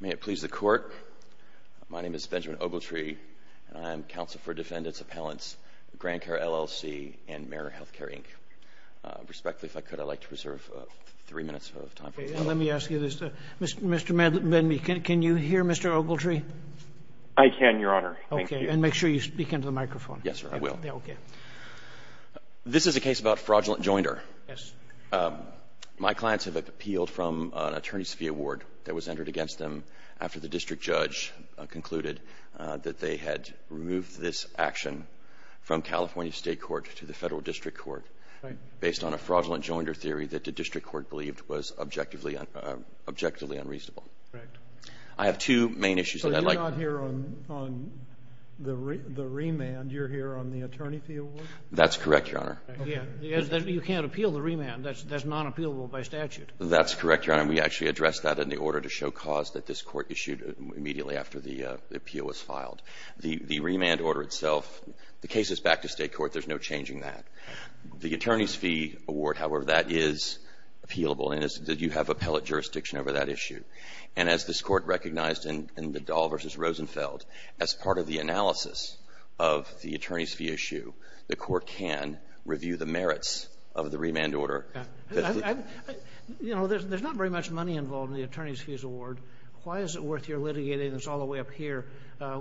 May it please the Court, my name is Benjamin Ogletree and I am Counsel for Defendant's Appellants, GrandCare, LLC and Mariner Healthcare, Inc. Respectfully, if I could, I'd like to reserve three minutes of time for the testimony. Let me ask you this, Mr. Medley, can you hear Mr. Ogletree? I can, Your Honor. Thank you. Okay, and make sure you speak into the microphone. Yes, sir, I will. This is a case about fraudulent joinder. Yes, sir. My clients have appealed from an attorney's fee award that was entered against them after the district judge concluded that they had removed this action from California State Court to the Federal District Court based on a fraudulent joinder theory that the district court believed was objectively unreasonable. I have two main issues that I'd like to... So you're not here on the remand, you're here on the attorney fee award? That's correct, Your Honor. You can't appeal the remand, that's non-appealable by statute. That's correct, Your Honor. We actually addressed that in the order to show cause that this court issued immediately after the appeal was filed. The remand order itself, the case is back to state court, there's no changing that. The attorney's fee award, however, that is appealable and you have appellate jurisdiction over that issue. And as this court recognized in McDowell v. Rosenfeld, as part of the analysis of the review, the merits of the remand order... You know, there's not very much money involved in the attorney's fees award. Why is it worth your litigating this all the way up here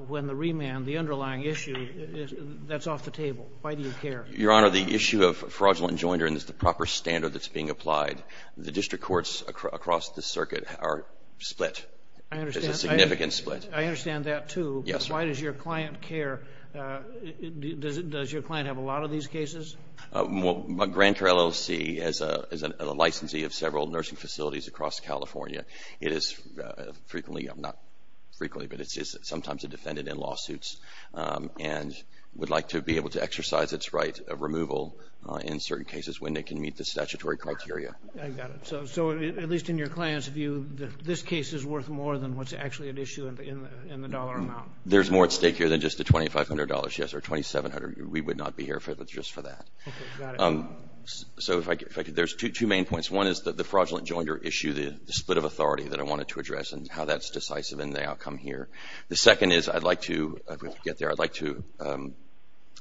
when the remand, the underlying issue, that's off the table? Why do you care? Your Honor, the issue of fraudulent joinder is the proper standard that's being applied. The district courts across the circuit are split, there's a significant split. I understand that too. Yes, sir. Why does your client care? Does your client have a lot of these cases? Well, Grand Care LLC is a licensee of several nursing facilities across California. It is frequently, not frequently, but it's sometimes a defendant in lawsuits and would like to be able to exercise its right of removal in certain cases when they can meet the statutory criteria. I got it. So at least in your client's view, this case is worth more than what's actually at issue in the dollar amount. There's more at stake here than just the $2,500, yes, or $2,700. We would not be here if it was just for that. Okay. Got it. So if I could, there's two main points. One is that the fraudulent joinder issue, the split of authority that I wanted to address and how that's decisive in the outcome here. The second is I'd like to get there, I'd like to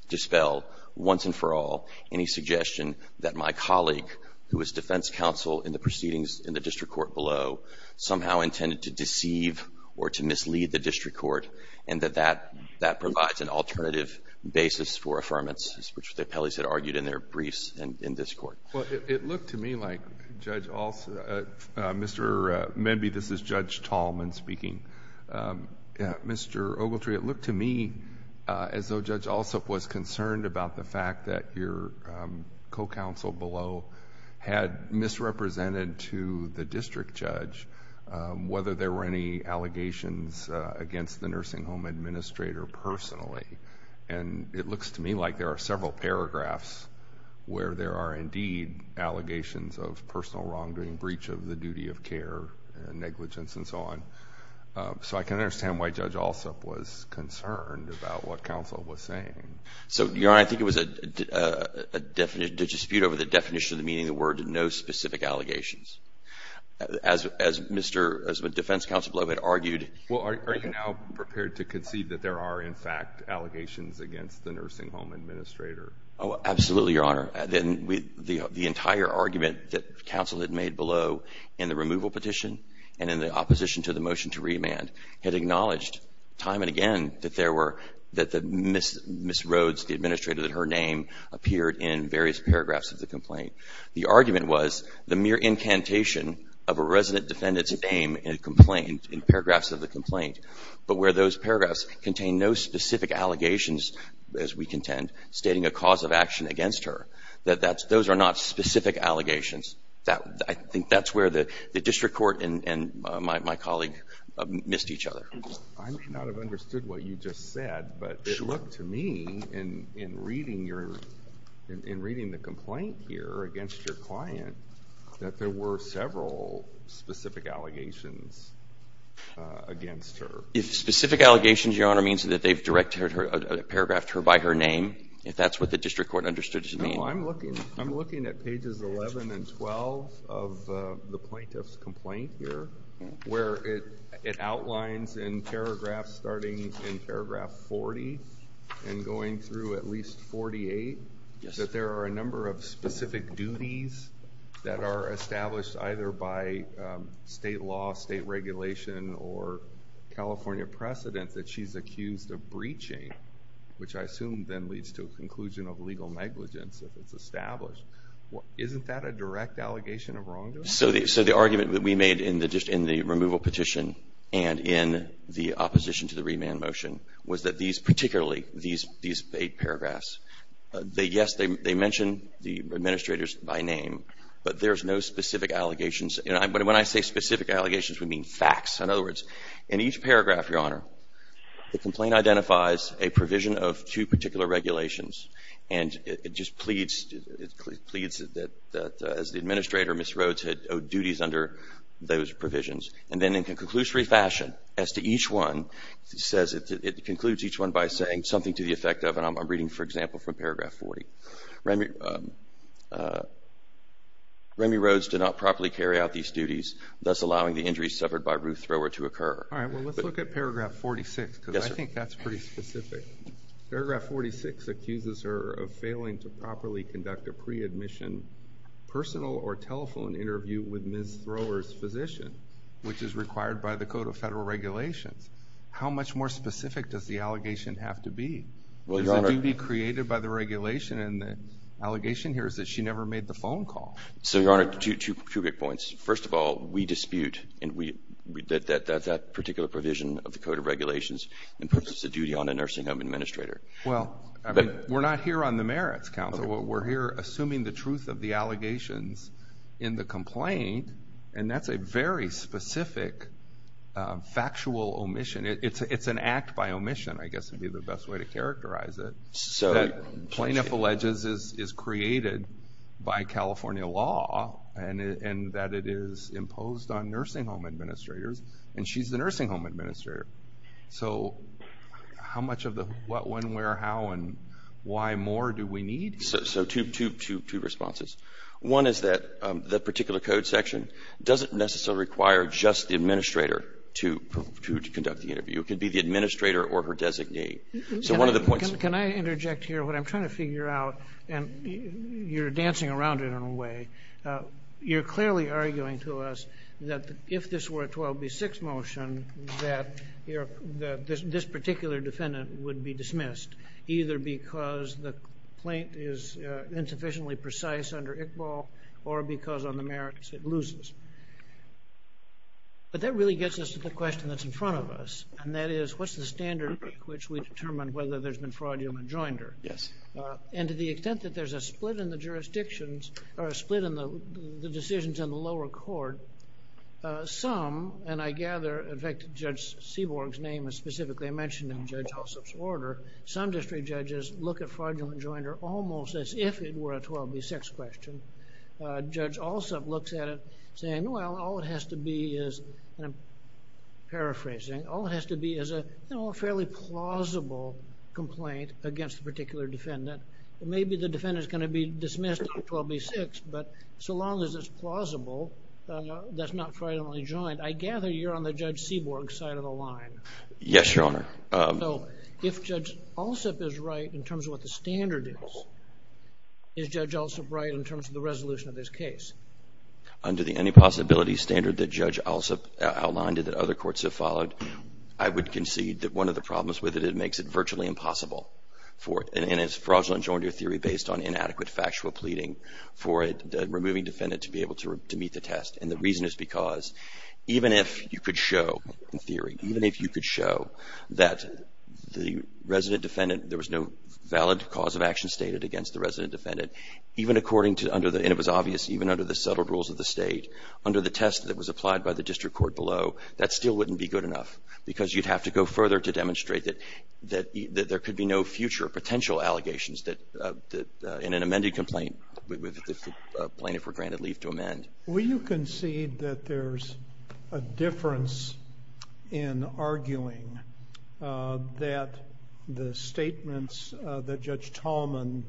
dispel once and for all any suggestion that my colleague who is defense counsel in the proceedings in the district court below somehow intended to deceive or to mislead the district court and that that provides an alternative basis for affirmance, which the appellees had argued in their briefs in this court. Well, it looked to me like Judge Alsup, maybe this is Judge Tallman speaking, Mr. Ogletree, it looked to me as though Judge Alsup was concerned about the fact that your co-counsel below had misrepresented to the district judge whether there were any allegations against the nursing home administrator personally, and it looks to me like there are several paragraphs where there are indeed allegations of personal wrongdoing, breach of the duty of care, negligence and so on. So I can understand why Judge Alsup was concerned about what counsel was saying. So, Your Honor, I think it was a dispute over the definition of the meaning of the word no specific allegations. As Mr. defense counsel below had argued. Well, are you now prepared to concede that there are in fact allegations against the nursing home administrator? Oh, absolutely, Your Honor. Then the entire argument that counsel had made below in the removal petition and in the opposition to the motion to remand had acknowledged time and again that there were that Ms. Rhodes, the administrator, that her name appeared in various paragraphs of the complaint. The argument was the mere incantation of a resident defendant's name in a complaint in paragraphs of the complaint, but where those paragraphs contain no specific allegations, as we contend, stating a cause of action against her. Those are not specific allegations. I think that's where the district court and my colleague missed each other. I may not have understood what you just said, but it looked to me in reading the complaint here against your client, that there were several specific allegations against her. If specific allegations, Your Honor, means that they've directed her, paragraphed her by her name, if that's what the district court understood to mean. No, I'm looking at pages 11 and 12 of the plaintiff's complaint here, where it outlines in paragraphs, starting in paragraph 40 and going through at least 48, that there are a number of specific duties that are established either by state law, state regulation or California precedent that she's accused of breaching, which I assume then leads to a conclusion of legal negligence if it's established. Isn't that a direct allegation of wrongdoing? So the argument that we made in the removal petition and in the opposition to the remand motion was that these, particularly these eight paragraphs, yes, they mention the administrators by name, but there's no specific allegations. When I say specific allegations, we mean facts, in other words. In each paragraph, Your Honor, the complaint identifies a provision of two particular duties under those provisions. And then in conclusory fashion, as to each one, it concludes each one by saying something to the effect of, and I'm reading, for example, from paragraph 40, Remy Rhodes did not properly carry out these duties, thus allowing the injuries suffered by Ruth Thrower to occur. All right, well, let's look at paragraph 46, because I think that's pretty specific. Paragraph 46 accuses her of failing to properly conduct a pre-admission personal or telephone interview with Ms. Thrower's physician, which is required by the Code of Federal Regulations. How much more specific does the allegation have to be? Does the duty be created by the regulation and the allegation here is that she never made the phone call? So, Your Honor, two big points. First of all, we dispute that that particular provision of the Code of Regulations imposes a duty on a nursing home administrator. Well, we're not here on the merits, counsel. We're here assuming the truth of the allegations in the complaint, and that's a very specific factual omission. It's an act by omission, I guess, would be the best way to characterize it, that plaintiff alleges is created by California law, and that it is imposed on nursing home administrators, and she's the nursing home administrator. So how much of the what, when, where, how, and why more do we need? So two responses. One is that the particular code section doesn't necessarily require just the administrator to conduct the interview. It could be the administrator or her designee. So one of the points of the law. Can I interject here? What I'm trying to figure out, and you're dancing around it in a way, you're clearly arguing to us that if this were a 12B6 motion, that this particular defendant would be dismissed, either because the complaint is insufficiently precise under Iqbal, or because on the merits it loses. But that really gets us to the question that's in front of us, and that is, what's the standard which we determine whether there's been fraud, human joinder? Yes. And to the extent that there's a split in the jurisdictions, or a split in the decisions in the lower court, some, and I gather, in fact, Judge Seaborg's name is specifically mentioned in Judge Alsop's order, some district judges look at fraudulent joinder almost as if it were a 12B6 question. Judge Alsop looks at it saying, well, all it has to be is, and I'm paraphrasing, all it has to be is a fairly plausible complaint against a particular defendant. Maybe the defendant is going to be dismissed on 12B6, but so long as it's plausible, that's not fraudulently joined. I gather you're on the Judge Seaborg side of the line. Yes, Your Honor. So if Judge Alsop is right in terms of what the standard is, is Judge Alsop right in terms of the resolution of this case? Under the any possibility standard that Judge Alsop outlined and that other courts have followed, I would concede that one of the problems with it, it makes it virtually impossible for it, and it's fraudulent joinder theory based on inadequate factual pleading for removing defendant to be able to meet the test. And the reason is because even if you could show in theory, even if you could show that the resident defendant, there was no valid cause of action stated against the resident defendant, even according to under the, and it was obvious even under the settled rules of the state, under the test that was applied by the district court below, that still wouldn't be good enough because you'd have to go further to demonstrate that there could be no future potential allegations that in an amended complaint, the plaintiff were granted leave to amend. Will you concede that there's a difference in arguing that the statements that Judge Tallman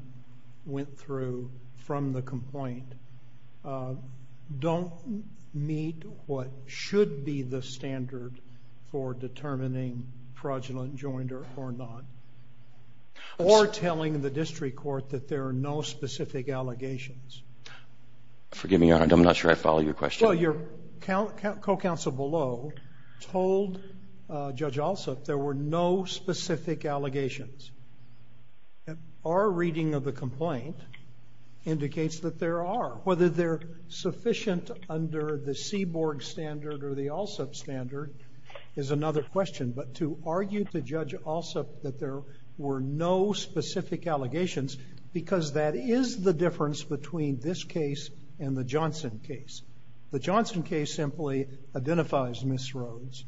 went through from the complaint don't meet what should be the standard for determining fraudulent joinder or not, or telling the district court that there are no specific allegations? Forgive me, Your Honor, I'm not sure I follow your question. Well, your co-counsel below told Judge Alsup there were no specific allegations. Our reading of the complaint indicates that there are. Whether they're sufficient under the Seaborg standard or the Alsup standard is another question. But to argue to Judge Alsup that there were no specific allegations, because that is the difference between this case and the Johnson case. The Johnson case simply identifies misroads,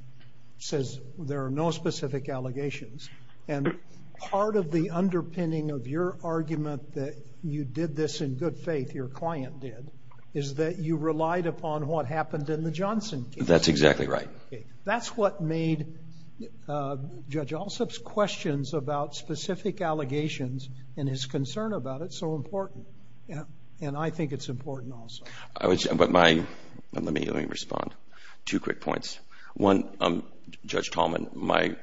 says there are no specific allegations. And part of the underpinning of your argument that you did this in good faith, your client did, is that you relied upon what happened in the Johnson case. That's exactly right. That's what made Judge Alsup's questions about specific allegations and his concern about it so important. And I think it's important also. Let me respond. Two quick points. One, Judge Tallman,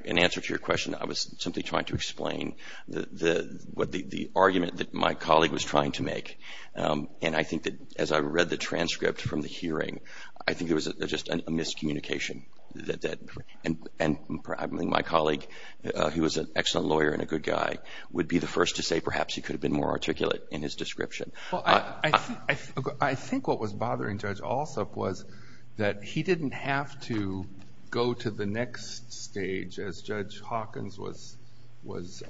in answer to your question, I was simply trying to explain the argument that my colleague was trying to make. And I think that as I read the transcript from the hearing, I think there was just a miscommunication. And my colleague, who was an excellent lawyer and a good guy, would be the first to say that perhaps he could have been more articulate in his description. I think what was bothering Judge Alsup was that he didn't have to go to the next stage as Judge Hawkins was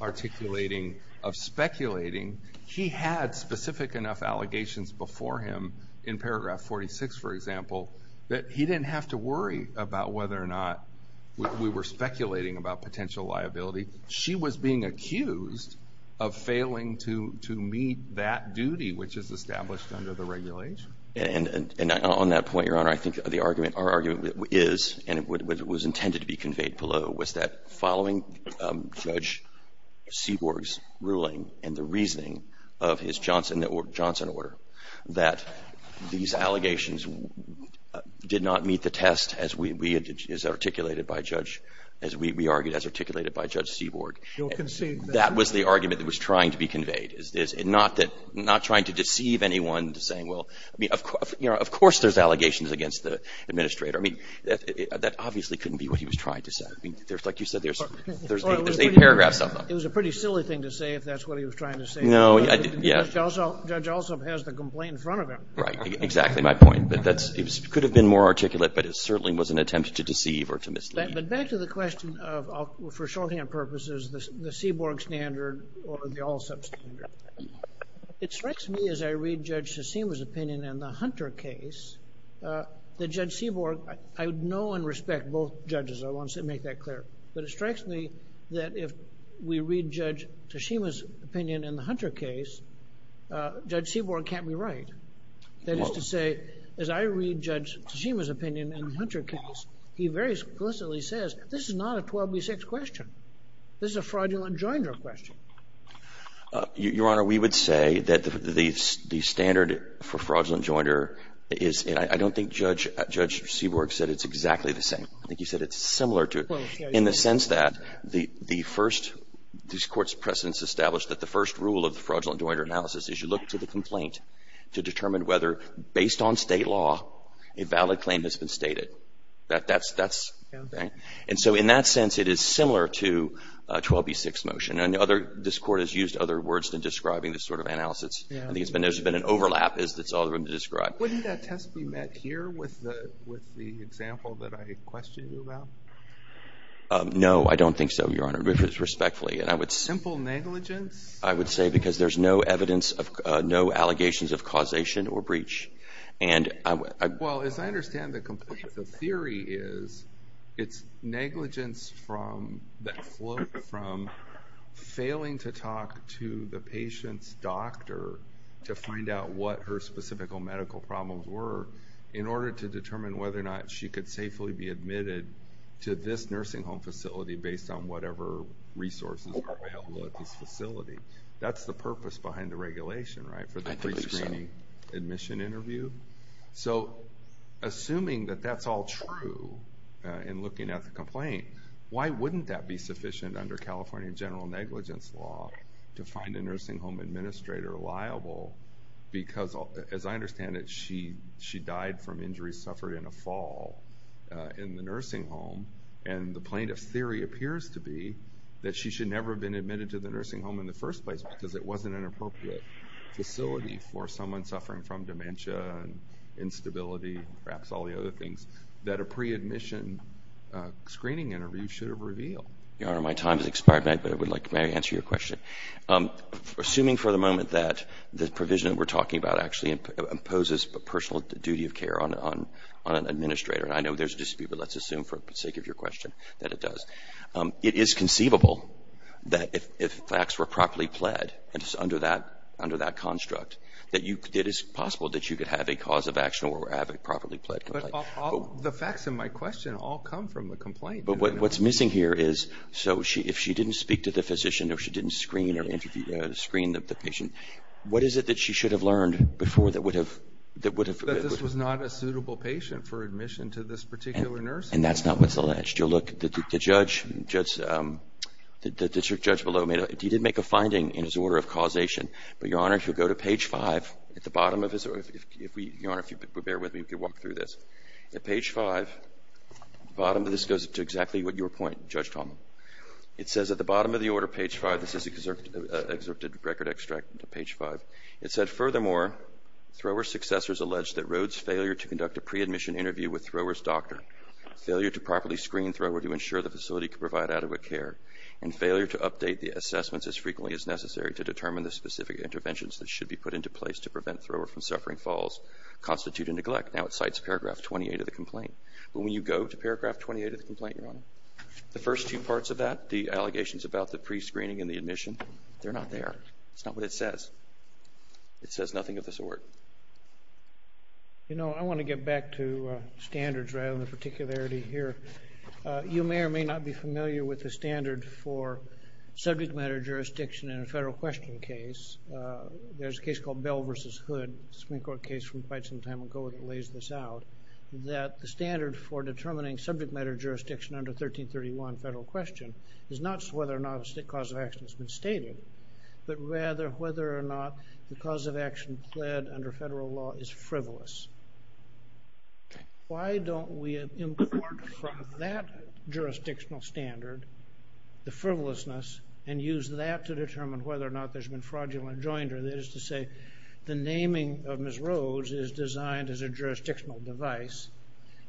articulating of speculating. He had specific enough allegations before him in paragraph 46, for example, that he didn't have to worry about whether or not we were speculating about potential liability. She was being accused of failing to meet that duty, which is established under the regulation. And on that point, Your Honor, I think the argument, our argument is, and it was intended to be conveyed below, was that following Judge Seaborg's ruling and the reasoning of his Johnson order, that these allegations did not meet the test as we articulated by Judge Seaborg. That was the argument that was trying to be conveyed, not trying to deceive anyone to say, well, of course there's allegations against the administrator. I mean, that obviously couldn't be what he was trying to say. Like you said, there's eight paragraphs of them. It was a pretty silly thing to say if that's what he was trying to say. No, yeah. Judge Alsup has the complaint in front of him. Right, exactly my point. It could have been more articulate, but it certainly was an attempt to deceive or to mislead. But back to the question of, for shorthand purposes, the Seaborg standard or the Alsup standard. It strikes me as I read Judge Tsushima's opinion in the Hunter case that Judge Seaborg, I know and respect both judges, I want to make that clear, but it strikes me that if we read Judge Tsushima's opinion in the Hunter case, Judge Seaborg can't be right. That is to say, as I read Judge Tsushima's opinion in the Hunter case, he very explicitly says this is not a 12B6 question. This is a fraudulent joinder question. Your Honor, we would say that the standard for fraudulent joinder is, and I don't think Judge Seaborg said it's exactly the same. I think he said it's similar to it. In the sense that the first, this Court's precedence established that the first rule of the fraudulent joinder analysis is you look to the complaint to determine whether, based on State law, a valid claim has been stated. That's right. And so in that sense, it is similar to a 12B6 motion. And this Court has used other words than describing this sort of analysis. I think there's been an overlap that's all there is to describe. Wouldn't that test be met here with the example that I questioned you about? No, I don't think so, Your Honor, respectfully. Simple negligence? I would say because there's no evidence, no allegations of causation or breach. Well, as I understand the theory is it's negligence that flowed from failing to talk to the patient's doctor to find out what her specific medical problems were in order to determine whether or not she could safely be admitted to this nursing home facility based on whatever resources are available at this facility. That's the purpose behind the regulation, right, for the pre-screening admission interview. So assuming that that's all true in looking at the complaint, why wouldn't that be sufficient under California general negligence law to find a nursing home administrator liable because, as I understand it, she died from injuries suffered in a fall in the nursing home, and the plaintiff's theory appears to be that she should never have been admitted to the nursing home in the first place because it wasn't an appropriate facility for someone suffering from dementia and instability and perhaps all the other things that a pre-admission screening interview should have revealed? Your Honor, my time has expired, but I would like to answer your question. Assuming for the moment that the provision that we're talking about actually imposes a personal duty of care on an administrator, and I know there's a dispute, but let's make of your question that it does, it is conceivable that if facts were properly pled and it's under that construct, that it is possible that you could have a cause of action or have a properly pled complaint. But the facts in my question all come from the complaint. But what's missing here is, so if she didn't speak to the physician or she didn't screen the patient, what is it that she should have learned before that would have... That this was not a suitable patient for admission to this particular nursing home. And that's not what's alleged. You'll look, the judge below, he did make a finding in his order of causation. But, Your Honor, if you'll go to page 5, at the bottom of his... Your Honor, if you could bear with me, we could walk through this. At page 5, bottom of this goes to exactly what you were pointing, Judge Tomlin. It says at the bottom of the order, page 5, this is an excerpted record extract to page 5. It said, furthermore, Thrower's successors allege that Rhodes' failure to conduct a pre-admission interview with Thrower's doctor, failure to properly screen Thrower to ensure the facility could provide adequate care, and failure to update the assessments as frequently as necessary to determine the specific interventions that should be put into place to prevent Thrower from suffering falls constitute a neglect. Now it cites paragraph 28 of the complaint. But when you go to paragraph 28 of the complaint, Your Honor, the first two parts of that, the allegations about the pre-screening and the admission, they're not there. That's not what it says. It says nothing of the sort. You know, I want to get back to standards rather than particularity here. You may or may not be familiar with the standard for subject matter jurisdiction in a federal question case. There's a case called Bell v. Hood, Supreme Court case from quite some time ago that lays this out, that the standard for determining subject matter jurisdiction under 1331 federal question is not whether or not a cause of action has been stated, but rather whether or not the cause of action pled under federal law is frivolous. Why don't we import from that jurisdictional standard the frivolousness and use that to determine whether or not there's been fraudulent joinder, that is to say the naming of Ms. Rhodes is designed as a jurisdictional device,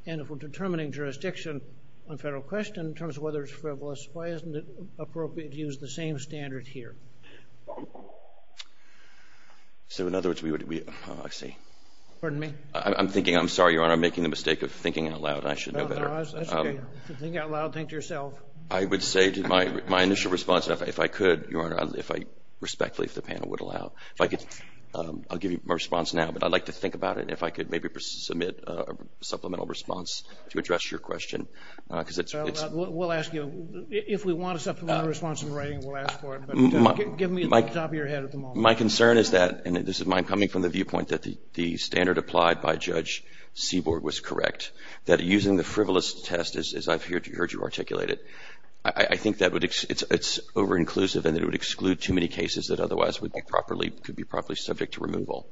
and if we're determining jurisdiction on federal question in terms of whether it's frivolous, why isn't it appropriate to use the same standard here? So in other words, we would be – oh, I see. Pardon me? I'm thinking – I'm sorry, Your Honor, I'm making the mistake of thinking out loud. I should know better. That's okay. If you're thinking out loud, think to yourself. I would say to my initial response, if I could, Your Honor, if I respectfully if the panel would allow, if I could – I'll give you my response now, but I'd like to think about it and if I could maybe submit a supplemental response to address your question because it's – We'll ask you. If we want a supplemental response in writing, we'll ask for it, but give me the top of your head at the moment. My concern is that – and this is my – I'm coming from the viewpoint that the standard applied by Judge Seaborg was correct, that using the frivolous test, as I've heard you articulate it, I think that it's over-inclusive and it would exclude too many cases that otherwise would be properly – could be properly subject to removal.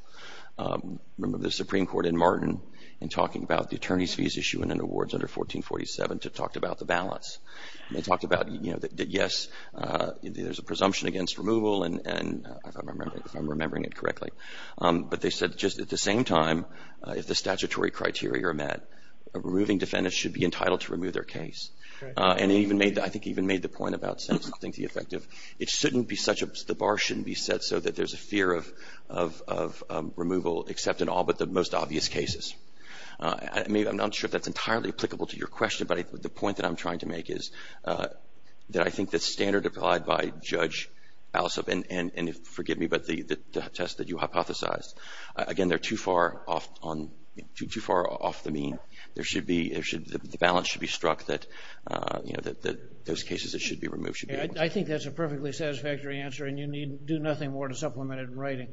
Remember the Supreme Court in Martin in talking about the attorneys' fees issue in awards under 1447 to talk about the balance. They talked about, you know, that yes, there's a presumption against removal and if I'm remembering it correctly. But they said just at the same time, if the statutory criteria are met, a removing defendant should be entitled to remove their case. And it even made – I think it even made the point about something to the effect of it shouldn't be such – the bar shouldn't be set so that there's a fear of removal except in all but the most obvious cases. I mean, I'm not sure if that's entirely applicable to your question, but the point that I'm trying to make is that I think the standard applied by Judge Alsop and forgive me, but the test that you hypothesized, again, they're too far off on – too far off the mean. There should be – the balance should be struck that, you know, that those cases that should be removed should be – I think that's a perfectly satisfactory answer and you need do nothing more to supplement it in writing.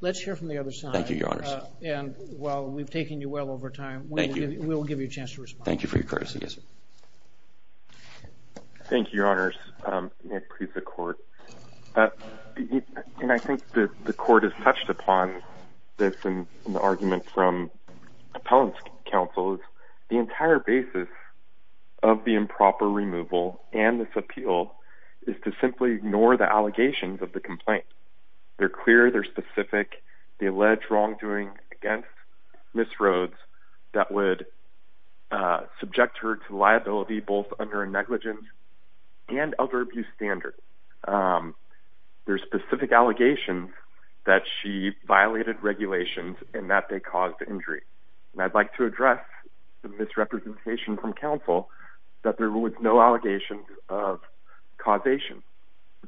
Let's hear from the other side. Thank you, Your Honors. And while we've taken you well over time, we will give you a chance to respond. Thank you for your courtesy. Yes, sir. Thank you, Your Honors. May it please the Court. And I think the Court has touched upon this in the argument from appellant's counsel. The entire basis of the improper removal and this appeal is to simply ignore the allegations of the complaint. They're clear. They're specific. They allege wrongdoing against Ms. Rhodes that would subject her to liability both under a negligence and elder abuse standard. There's specific allegations that she violated regulations and that they caused injury. And I'd like to address the misrepresentation from counsel that there was no allegations of causation.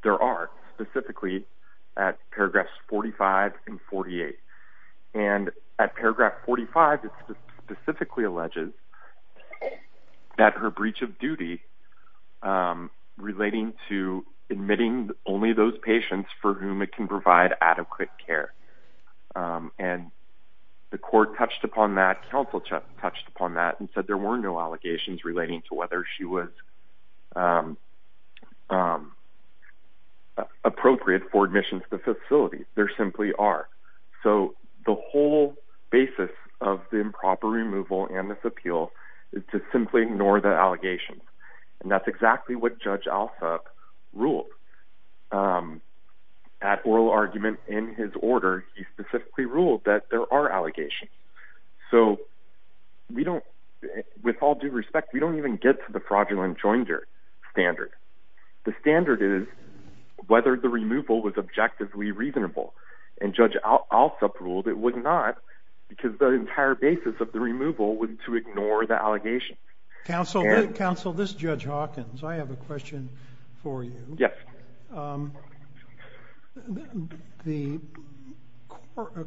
There are, specifically at paragraphs 45 and 48. And at paragraph 45, it specifically alleges that her breach of duty relating to admitting only those patients for whom it can provide adequate care. And the Court touched upon that, counsel touched upon that and said there were no allegations relating to whether she was appropriate for admission to the facility. There simply are. So the whole basis of the improper removal and this appeal is to simply ignore the allegations. And that's exactly what Judge Alsop ruled. At oral argument in his order, he specifically ruled that there are allegations. So with all due respect, we don't even get to the fraudulent joinder standard. The standard is whether the removal was objectively reasonable. And Judge Alsop ruled it was not because the entire basis of the removal was to ignore the allegations. Counsel, this is Judge Hawkins. I have a question for you. Yes. The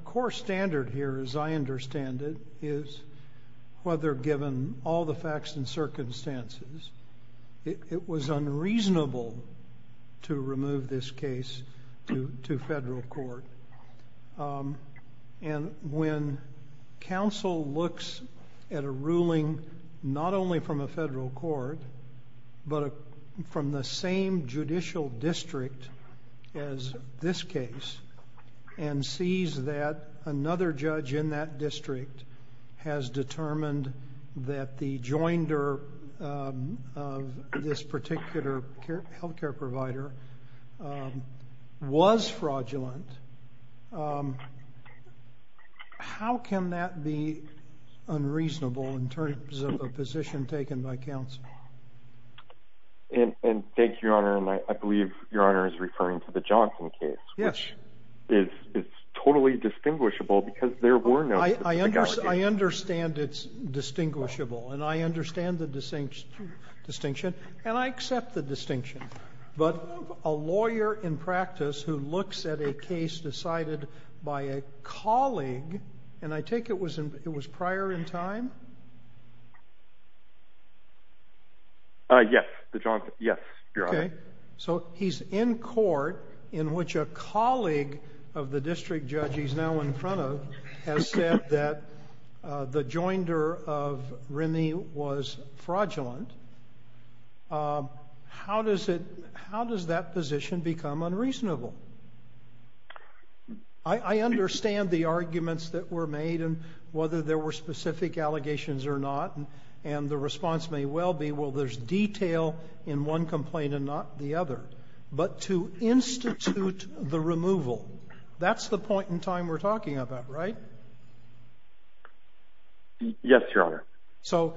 core standard here, as I understand it, is whether given all the facts and circumstances, it was unreasonable to remove this case to federal court. And when counsel looks at a ruling not only from a federal court, but from the same judicial district as this case, and sees that another judge in that district has determined that the joinder of this particular health care provider was fraudulent, how can that be unreasonable in terms of a position taken by counsel? And thank you, Your Honor. And I believe Your Honor is referring to the Johnson case, which is totally distinguishable because there were no allegations. I understand it's distinguishable. And I understand the distinction. And I accept the distinction. But a lawyer in practice who looks at a case decided by a colleague, and I take it it was prior in time? Yes. Yes, Your Honor. Okay. So he's in court in which a colleague of the district judge he's now in front of has said that the joinder of Rennie was fraudulent. How does that position become unreasonable? I understand the arguments that were made and whether there were specific allegations or not. And the response may well be, well, there's detail in one complaint and not the other. But to institute the removal, that's the point in time we're talking about, right? Yes, Your Honor. So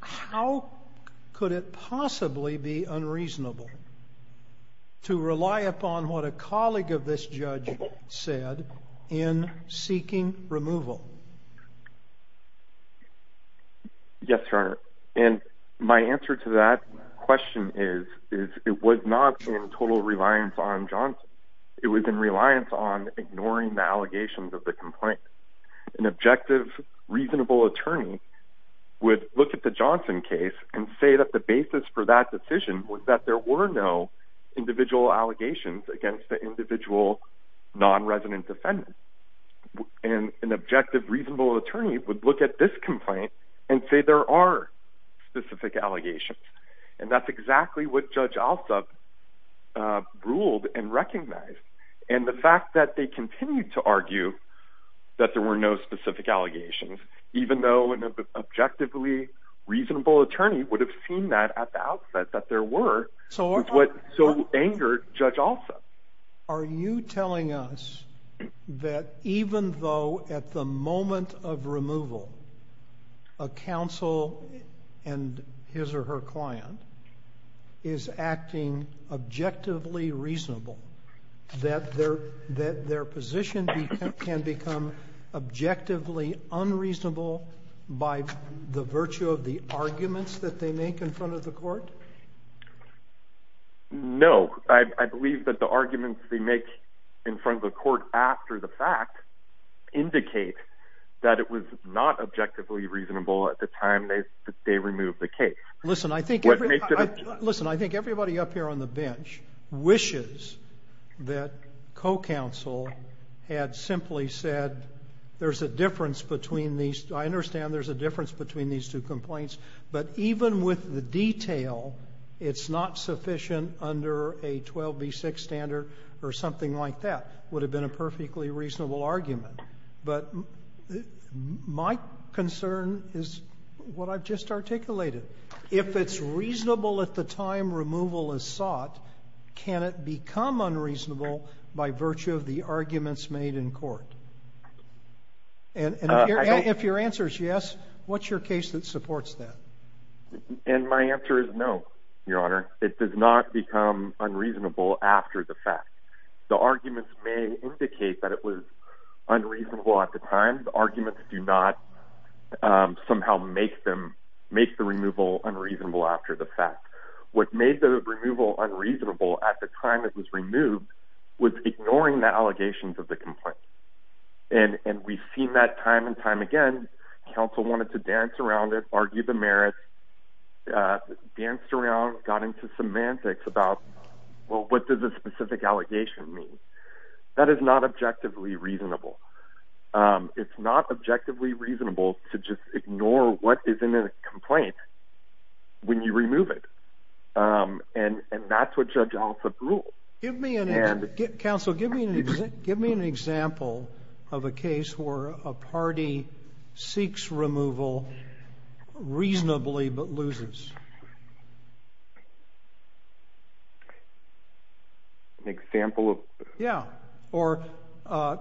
how could it possibly be unreasonable to rely upon what a colleague of this judge said in seeking removal? Yes, Your Honor. And my answer to that question is it was not in total reliance on Johnson. It was in reliance on ignoring the allegations of the complaint. An objective, reasonable attorney would look at the Johnson case and say that the basis for that decision was that there were no individual allegations against the individual non-resident defendant. And an objective, reasonable attorney would look at this complaint and say there are specific allegations. And that's exactly what Judge Alsup ruled and recognized. And the fact that they continued to argue that there were no specific allegations, even though an objectively reasonable attorney would have seen that at the outset, that there were, is what so angered Judge Alsup. Are you telling us that even though at the moment of removal a counsel and his or her client is acting objectively reasonable, that their position can become objectively unreasonable by the virtue of the arguments that they make in front of the court? No. I believe that the arguments they make in front of the court after the fact indicate that it was not objectively reasonable at the time they removed the case. Listen, I think everybody up here on the bench wishes that co-counsel had simply said there's a difference between these. I understand there's a difference between these two complaints. But even with the detail, it's not sufficient under a 12B6 standard or something like that would have been a perfectly reasonable argument. But my concern is what I've just articulated. If it's reasonable at the time removal is sought, can it become unreasonable by virtue of the arguments made in court? And if your answer is yes, what's your case that supports that? And my answer is no, Your Honor. It does not become unreasonable after the fact. The arguments may indicate that it was unreasonable at the time. The arguments do not somehow make the removal unreasonable after the fact. What made the removal unreasonable at the time it was removed was ignoring the allegations of the complaint. And we've seen that time and time again. Counsel wanted to dance around it, argue the merits, danced around, got into semantics about, well, what does a specific allegation mean? That is not objectively reasonable. It's not objectively reasonable to just ignore what is in a complaint when you remove it. And that's what Judge Alsop ruled. Counsel, give me an example of a case where a party seeks removal reasonably but loses. An example of this? Yeah. Or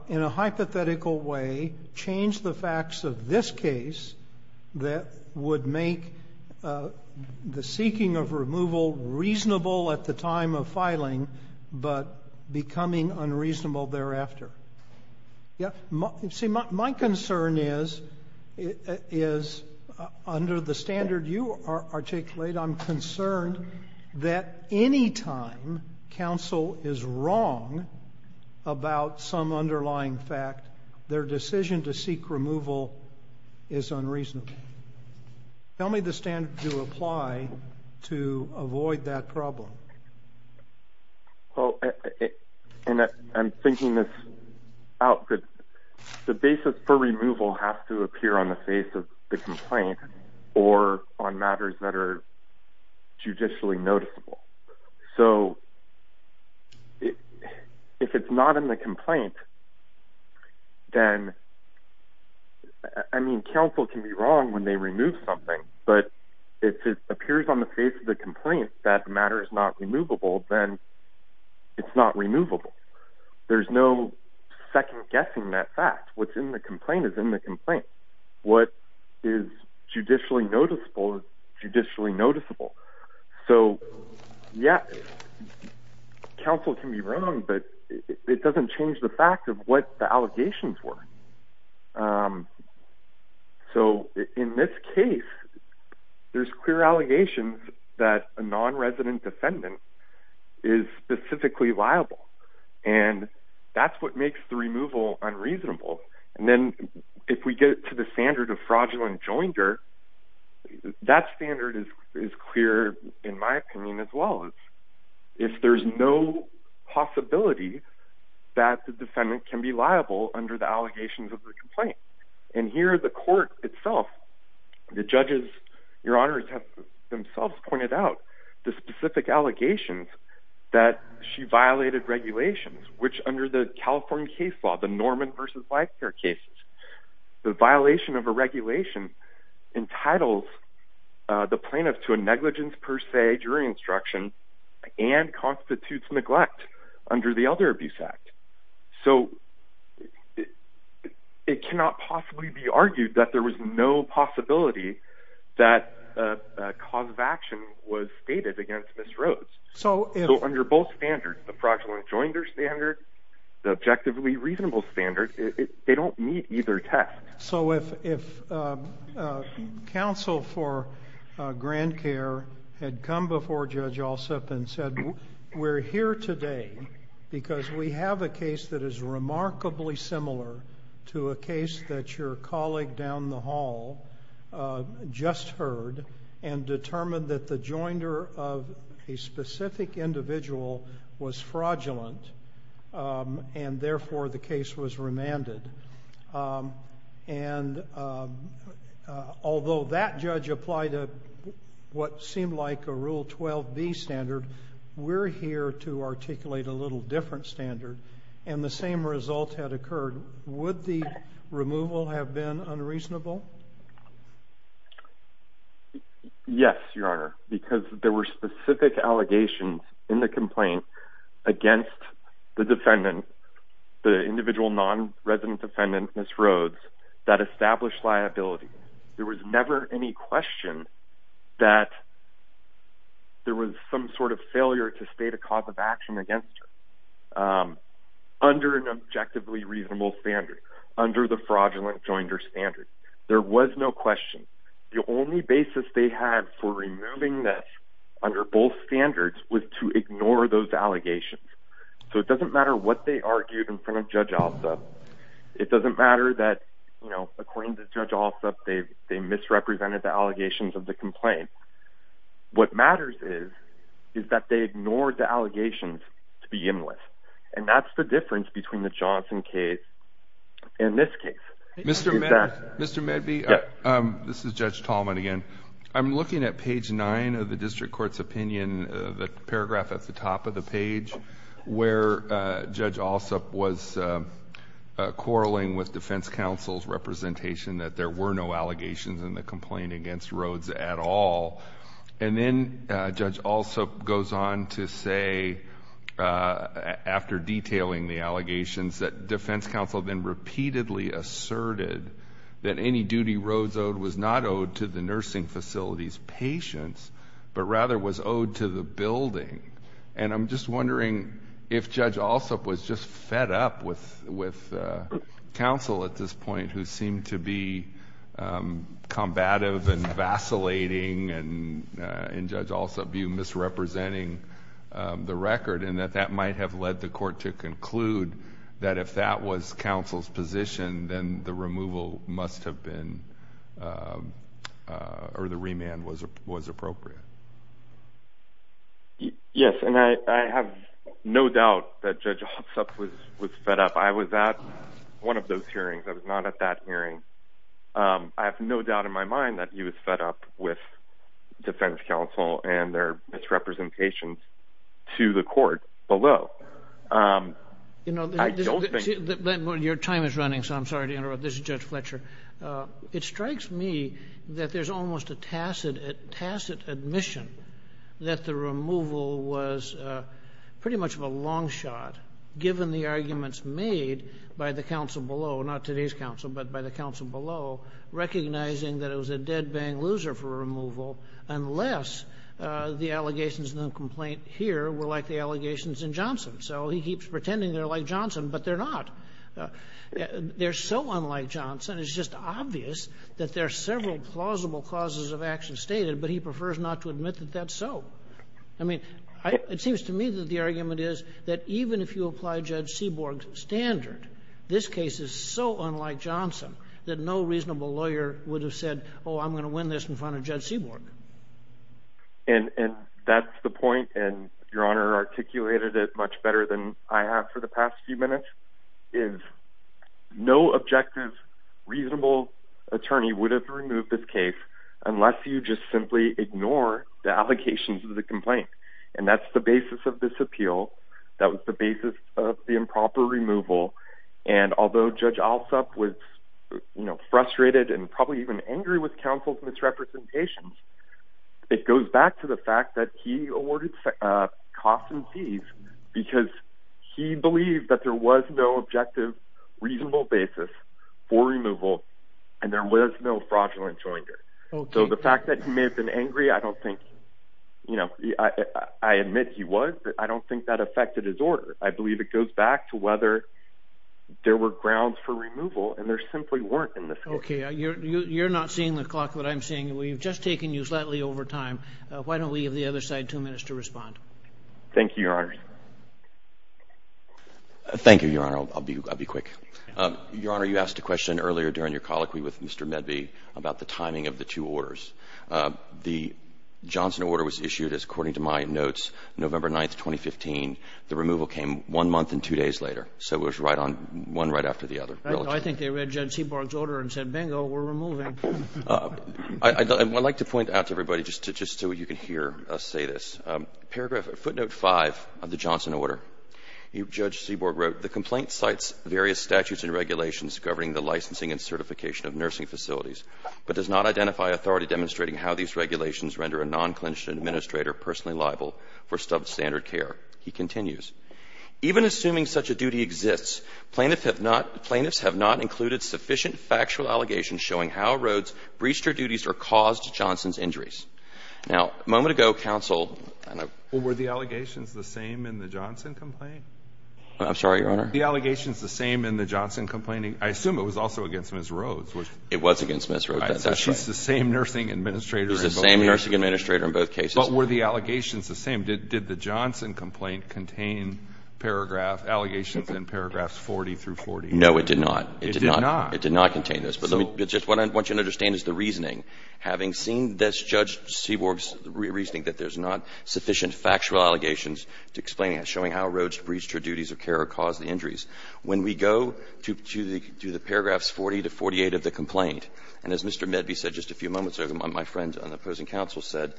in a hypothetical way, change the facts of this case that would make the seeking of removal reasonable at the time of filing but becoming unreasonable thereafter. Yeah. See, my concern is, under the standard you articulated, I'm concerned that any time counsel is wrong about some underlying fact, their decision to seek removal is unreasonable. Tell me the standard you apply to avoid that problem. Well, and I'm thinking this out. The basis for removal has to appear on the face of the complaint or on matters that are judicially noticeable. So if it's not in the complaint, then, I mean, counsel can be wrong when they remove something. But if it appears on the face of the complaint that the matter is not removable, then it's not removable. There's no second-guessing that fact. What's in the complaint is in the complaint. What is judicially noticeable is judicially noticeable. So, yeah, counsel can be wrong, but it doesn't change the fact of what the allegations were. So in this case, there's clear allegations that a non-resident defendant is specifically liable, and that's what makes the removal unreasonable. And then if we get to the standard of fraudulent joinder, that standard is clear, in my opinion, as well. If there's no possibility that the defendant can be liable under the allegations of the complaint. And here the court itself, the judges, Your Honors, have themselves pointed out the specific allegations that she violated regulations, which under the California case law, the Norman v. Life Care cases, the violation of a regulation entitles the plaintiff to a negligence per se jury instruction and constitutes neglect under the Elder Abuse Act. So it cannot possibly be argued that there was no possibility that a cause of action was stated against Ms. Rhodes. So under both standards, the fraudulent joinder standard, the objectively reasonable standard, they don't meet either test. So if counsel for Grand Care had come before Judge Allsup and said, We're here today because we have a case that is remarkably similar to a case that your colleague down the hall just heard and determined that the joinder of a specific individual was fraudulent and therefore the case was remanded. And although that judge applied what seemed like a Rule 12B standard, we're here to articulate a little different standard and the same result had occurred. Would the removal have been unreasonable? Yes, Your Honor, because there were specific allegations in the complaint against the defendant, the individual non-resident defendant, Ms. Rhodes, that established liability. There was never any question that there was some sort of failure to state a cause of action against her under an objectively reasonable standard, under the fraudulent joinder standard. There was no question. The only basis they had for removing this under both standards was to ignore those allegations. So it doesn't matter what they argued in front of Judge Allsup. It doesn't matter that, according to Judge Allsup, they misrepresented the allegations of the complaint. What matters is that they ignored the allegations to begin with. And that's the difference between the Johnson case and this case. Mr. Medby, this is Judge Tallman again. I'm looking at page 9 of the district court's opinion, the paragraph at the top of the page, where Judge Allsup was quarreling with defense counsel's representation that there were no allegations in the complaint against Rhodes at all. And then Judge Allsup goes on to say, after detailing the allegations, that defense counsel then repeatedly asserted that any duty Rhodes owed was not owed to the nursing facility's patients, but rather was owed to the building. And I'm just wondering if Judge Allsup was just fed up with counsel at this point who seemed to be combative and vacillating and, in Judge Allsup's view, misrepresenting the record, and that that might have led the court to conclude that if that was counsel's position, then the removal must have been or the remand was appropriate. Yes, and I have no doubt that Judge Allsup was fed up. I was at one of those hearings. I was not at that hearing. I have no doubt in my mind that he was fed up with defense counsel and their misrepresentations to the court below. Your time is running, so I'm sorry to interrupt. This is Judge Fletcher. It strikes me that there's almost a tacit admission that the removal was pretty much of a long shot, given the arguments made by the counsel below, not today's counsel, but by the counsel below, recognizing that it was a dead-bang loser for removal, unless the allegations in the complaint here were like the allegations in Johnson. So he keeps pretending they're like Johnson, but they're not. They're so unlike Johnson, it's just obvious that there are several plausible causes of action stated, but he prefers not to admit that that's so. I mean, it seems to me that the argument is that even if you apply Judge Seaborg's standard, this case is so unlike Johnson that no reasonable lawyer would have said, oh, I'm going to win this in front of Judge Seaborg. And that's the point, and Your Honor articulated it much better than I have for the past few minutes, is no objective, reasonable attorney would have removed this case unless you just simply ignore the allegations of the complaint. And that's the basis of this appeal. That was the basis of the improper removal. And although Judge Alsop was frustrated and probably even angry with counsel's misrepresentations, it goes back to the fact that he awarded costs and fees because he believed that there was no objective, reasonable basis for removal, and there was no fraudulent joinder. So the fact that he may have been angry, I don't think, you know, I admit he was, but I don't think that affected his order. I believe it goes back to whether there were grounds for removal, and there simply weren't in this case. Okay, you're not seeing the clock, but I'm seeing it. We've just taken you slightly over time. Why don't we give the other side two minutes to respond? Thank you, Your Honor. Thank you, Your Honor. I'll be quick. Your Honor, you asked a question earlier during your colloquy with Mr. Medve about the timing of the two orders. The Johnson order was issued as, according to my notes, November 9th, 2015. The removal came one month and two days later. So it was right on, one right after the other. I think they read Judge Seaborg's order and said, bingo, we're removing. I'd like to point out to everybody, just so you can hear us say this, footnote 5 of the Johnson order, Judge Seaborg wrote, the complaint cites various statutes and regulations governing the licensing and certification of nursing facilities, but does not identify authority demonstrating how these regulations render a non-clinician administrator personally liable for substandard care. He continues, even assuming such a duty exists, plaintiffs have not included sufficient factual allegations showing how Rhoades breached her duties or caused Johnson's injuries. Now, a moment ago, counsel and I. Well, were the allegations the same in the Johnson complaint? I'm sorry, Your Honor? Were the allegations the same in the Johnson complaint? I assume it was also against Ms. Rhoades. It was against Ms. Rhoades. That's right. She's the same nursing administrator in both cases. She's the same nursing administrator in both cases. But were the allegations the same? Did the Johnson complaint contain allegations in paragraphs 40 through 40? No, it did not. It did not? It did not contain those. But just what I want you to understand is the reasoning. Having seen this, Judge Seaborg's reasoning that there's not sufficient factual allegations to explain it, showing how Rhoades breached her duties of care or caused the injuries. When we go to the paragraphs 40 to 48 of the complaint, and as Mr. Medby said just a few moments ago, my friend on the opposing counsel said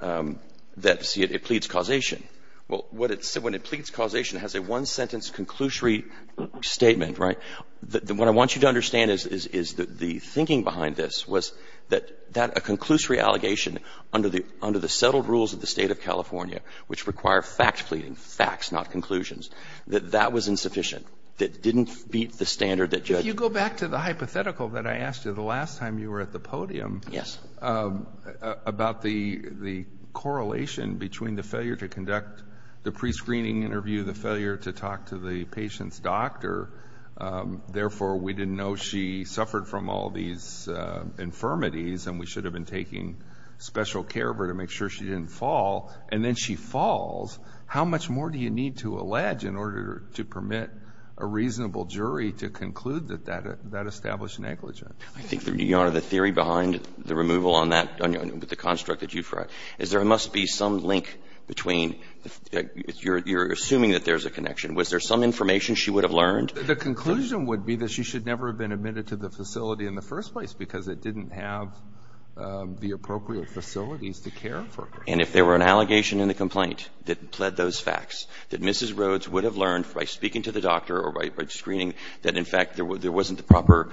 that, see, it pleads causation. Well, what it said, when it pleads causation, it has a one-sentence conclusory statement, right? What I want you to understand is the thinking behind this was that a conclusory allegation under the settled rules of the State of California, which require fact not conclusions, that that was insufficient. It didn't meet the standard that Judge Seaborg. If you go back to the hypothetical that I asked you the last time you were at the podium. Yes. About the correlation between the failure to conduct the prescreening interview, the failure to talk to the patient's doctor. Therefore, we didn't know she suffered from all these infirmities, and we should have been taking special care of her to make sure she didn't fall. And then she falls. How much more do you need to allege in order to permit a reasonable jury to conclude that that established negligence? I think, Your Honor, the theory behind the removal on that, with the construct that you've read, is there must be some link between the you're assuming that there's a connection. Was there some information she would have learned? The conclusion would be that she should never have been admitted to the facility in the first place because it didn't have the appropriate facilities to care for her. And if there were an allegation in the complaint that pled those facts, that Mrs. Rhodes would have learned by speaking to the doctor or by screening that, in fact, there wasn't the proper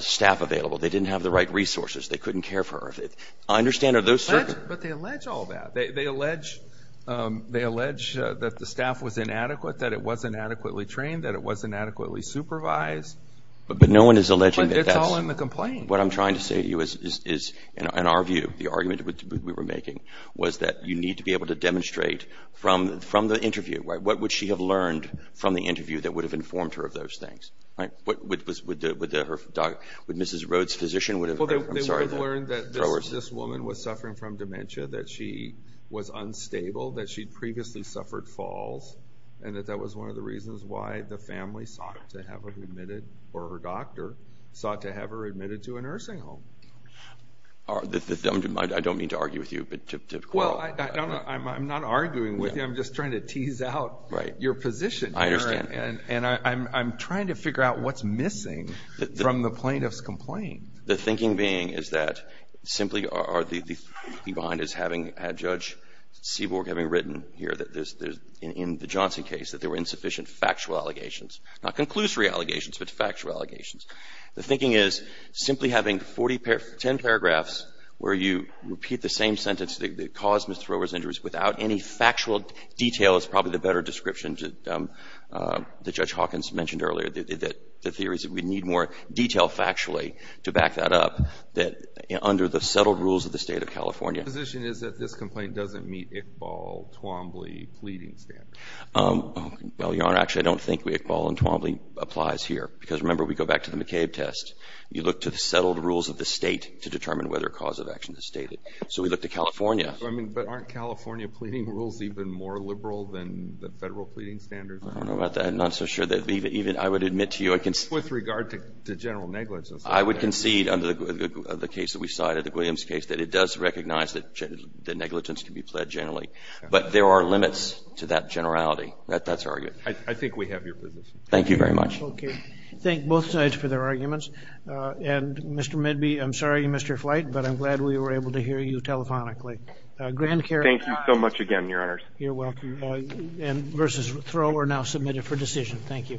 staff available. They didn't have the right resources. They couldn't care for her. I understand are those certain. But they allege all that. They allege that the staff was inadequate, that it wasn't adequately trained, that it wasn't adequately supervised. But no one is alleging that that's... But it's all in the complaint. What I'm trying to say to you is, in our view, the argument we were making was that you need to be able to demonstrate from the interview. What would she have learned from the interview that would have informed her of those things? Would Mrs. Rhodes' physician... They would have learned that this woman was suffering from dementia, that she was unstable, that she'd previously suffered falls, and that that was one of the reasons why the family sought to have her admitted, or her doctor sought to have her admitted to a nursing home. I don't mean to argue with you, but to... Well, I'm not arguing with you. I'm just trying to tease out your position here. I understand. And I'm trying to figure out what's missing from the plaintiff's complaint. The thinking being is that simply are the... Behind is having Judge Seaborg having written here that in the Johnson case that there were insufficient factual allegations, not conclusory allegations, but factual allegations. The thinking is simply having 10 paragraphs where you repeat the same sentence that caused Ms. Thoreau's injuries without any factual detail is probably the better description that Judge Hawkins mentioned earlier, that the theory is that we need more detail factually to back that up, that under the settled rules of the State of California... My position is that this complaint doesn't meet Iqbal, Twombly, Fleeting standards. Well, Your Honor, actually, I don't think Iqbal and Twombly applies here, because remember, we go back to the McCabe test. You look to the settled rules of the State to determine whether a cause of action is stated. So we look to California. I mean, but aren't California pleading rules even more liberal than the Federal pleading standards are? I don't know about that. I'm not so sure that even I would admit to you... With regard to general negligence. I would concede under the case that we cited, the Williams case, that it does recognize that negligence can be pled generally. But there are limits to that generality. That's argued. I think we have your position. Thank you very much. Okay. Thank both sides for their arguments. And Mr. Midby, I'm sorry, Mr. Flight, but I'm glad we were able to hear you telephonically. Thank you so much again, Your Honors. You're welcome. And versus Thoreau, we're now submitted for decision. Thank you.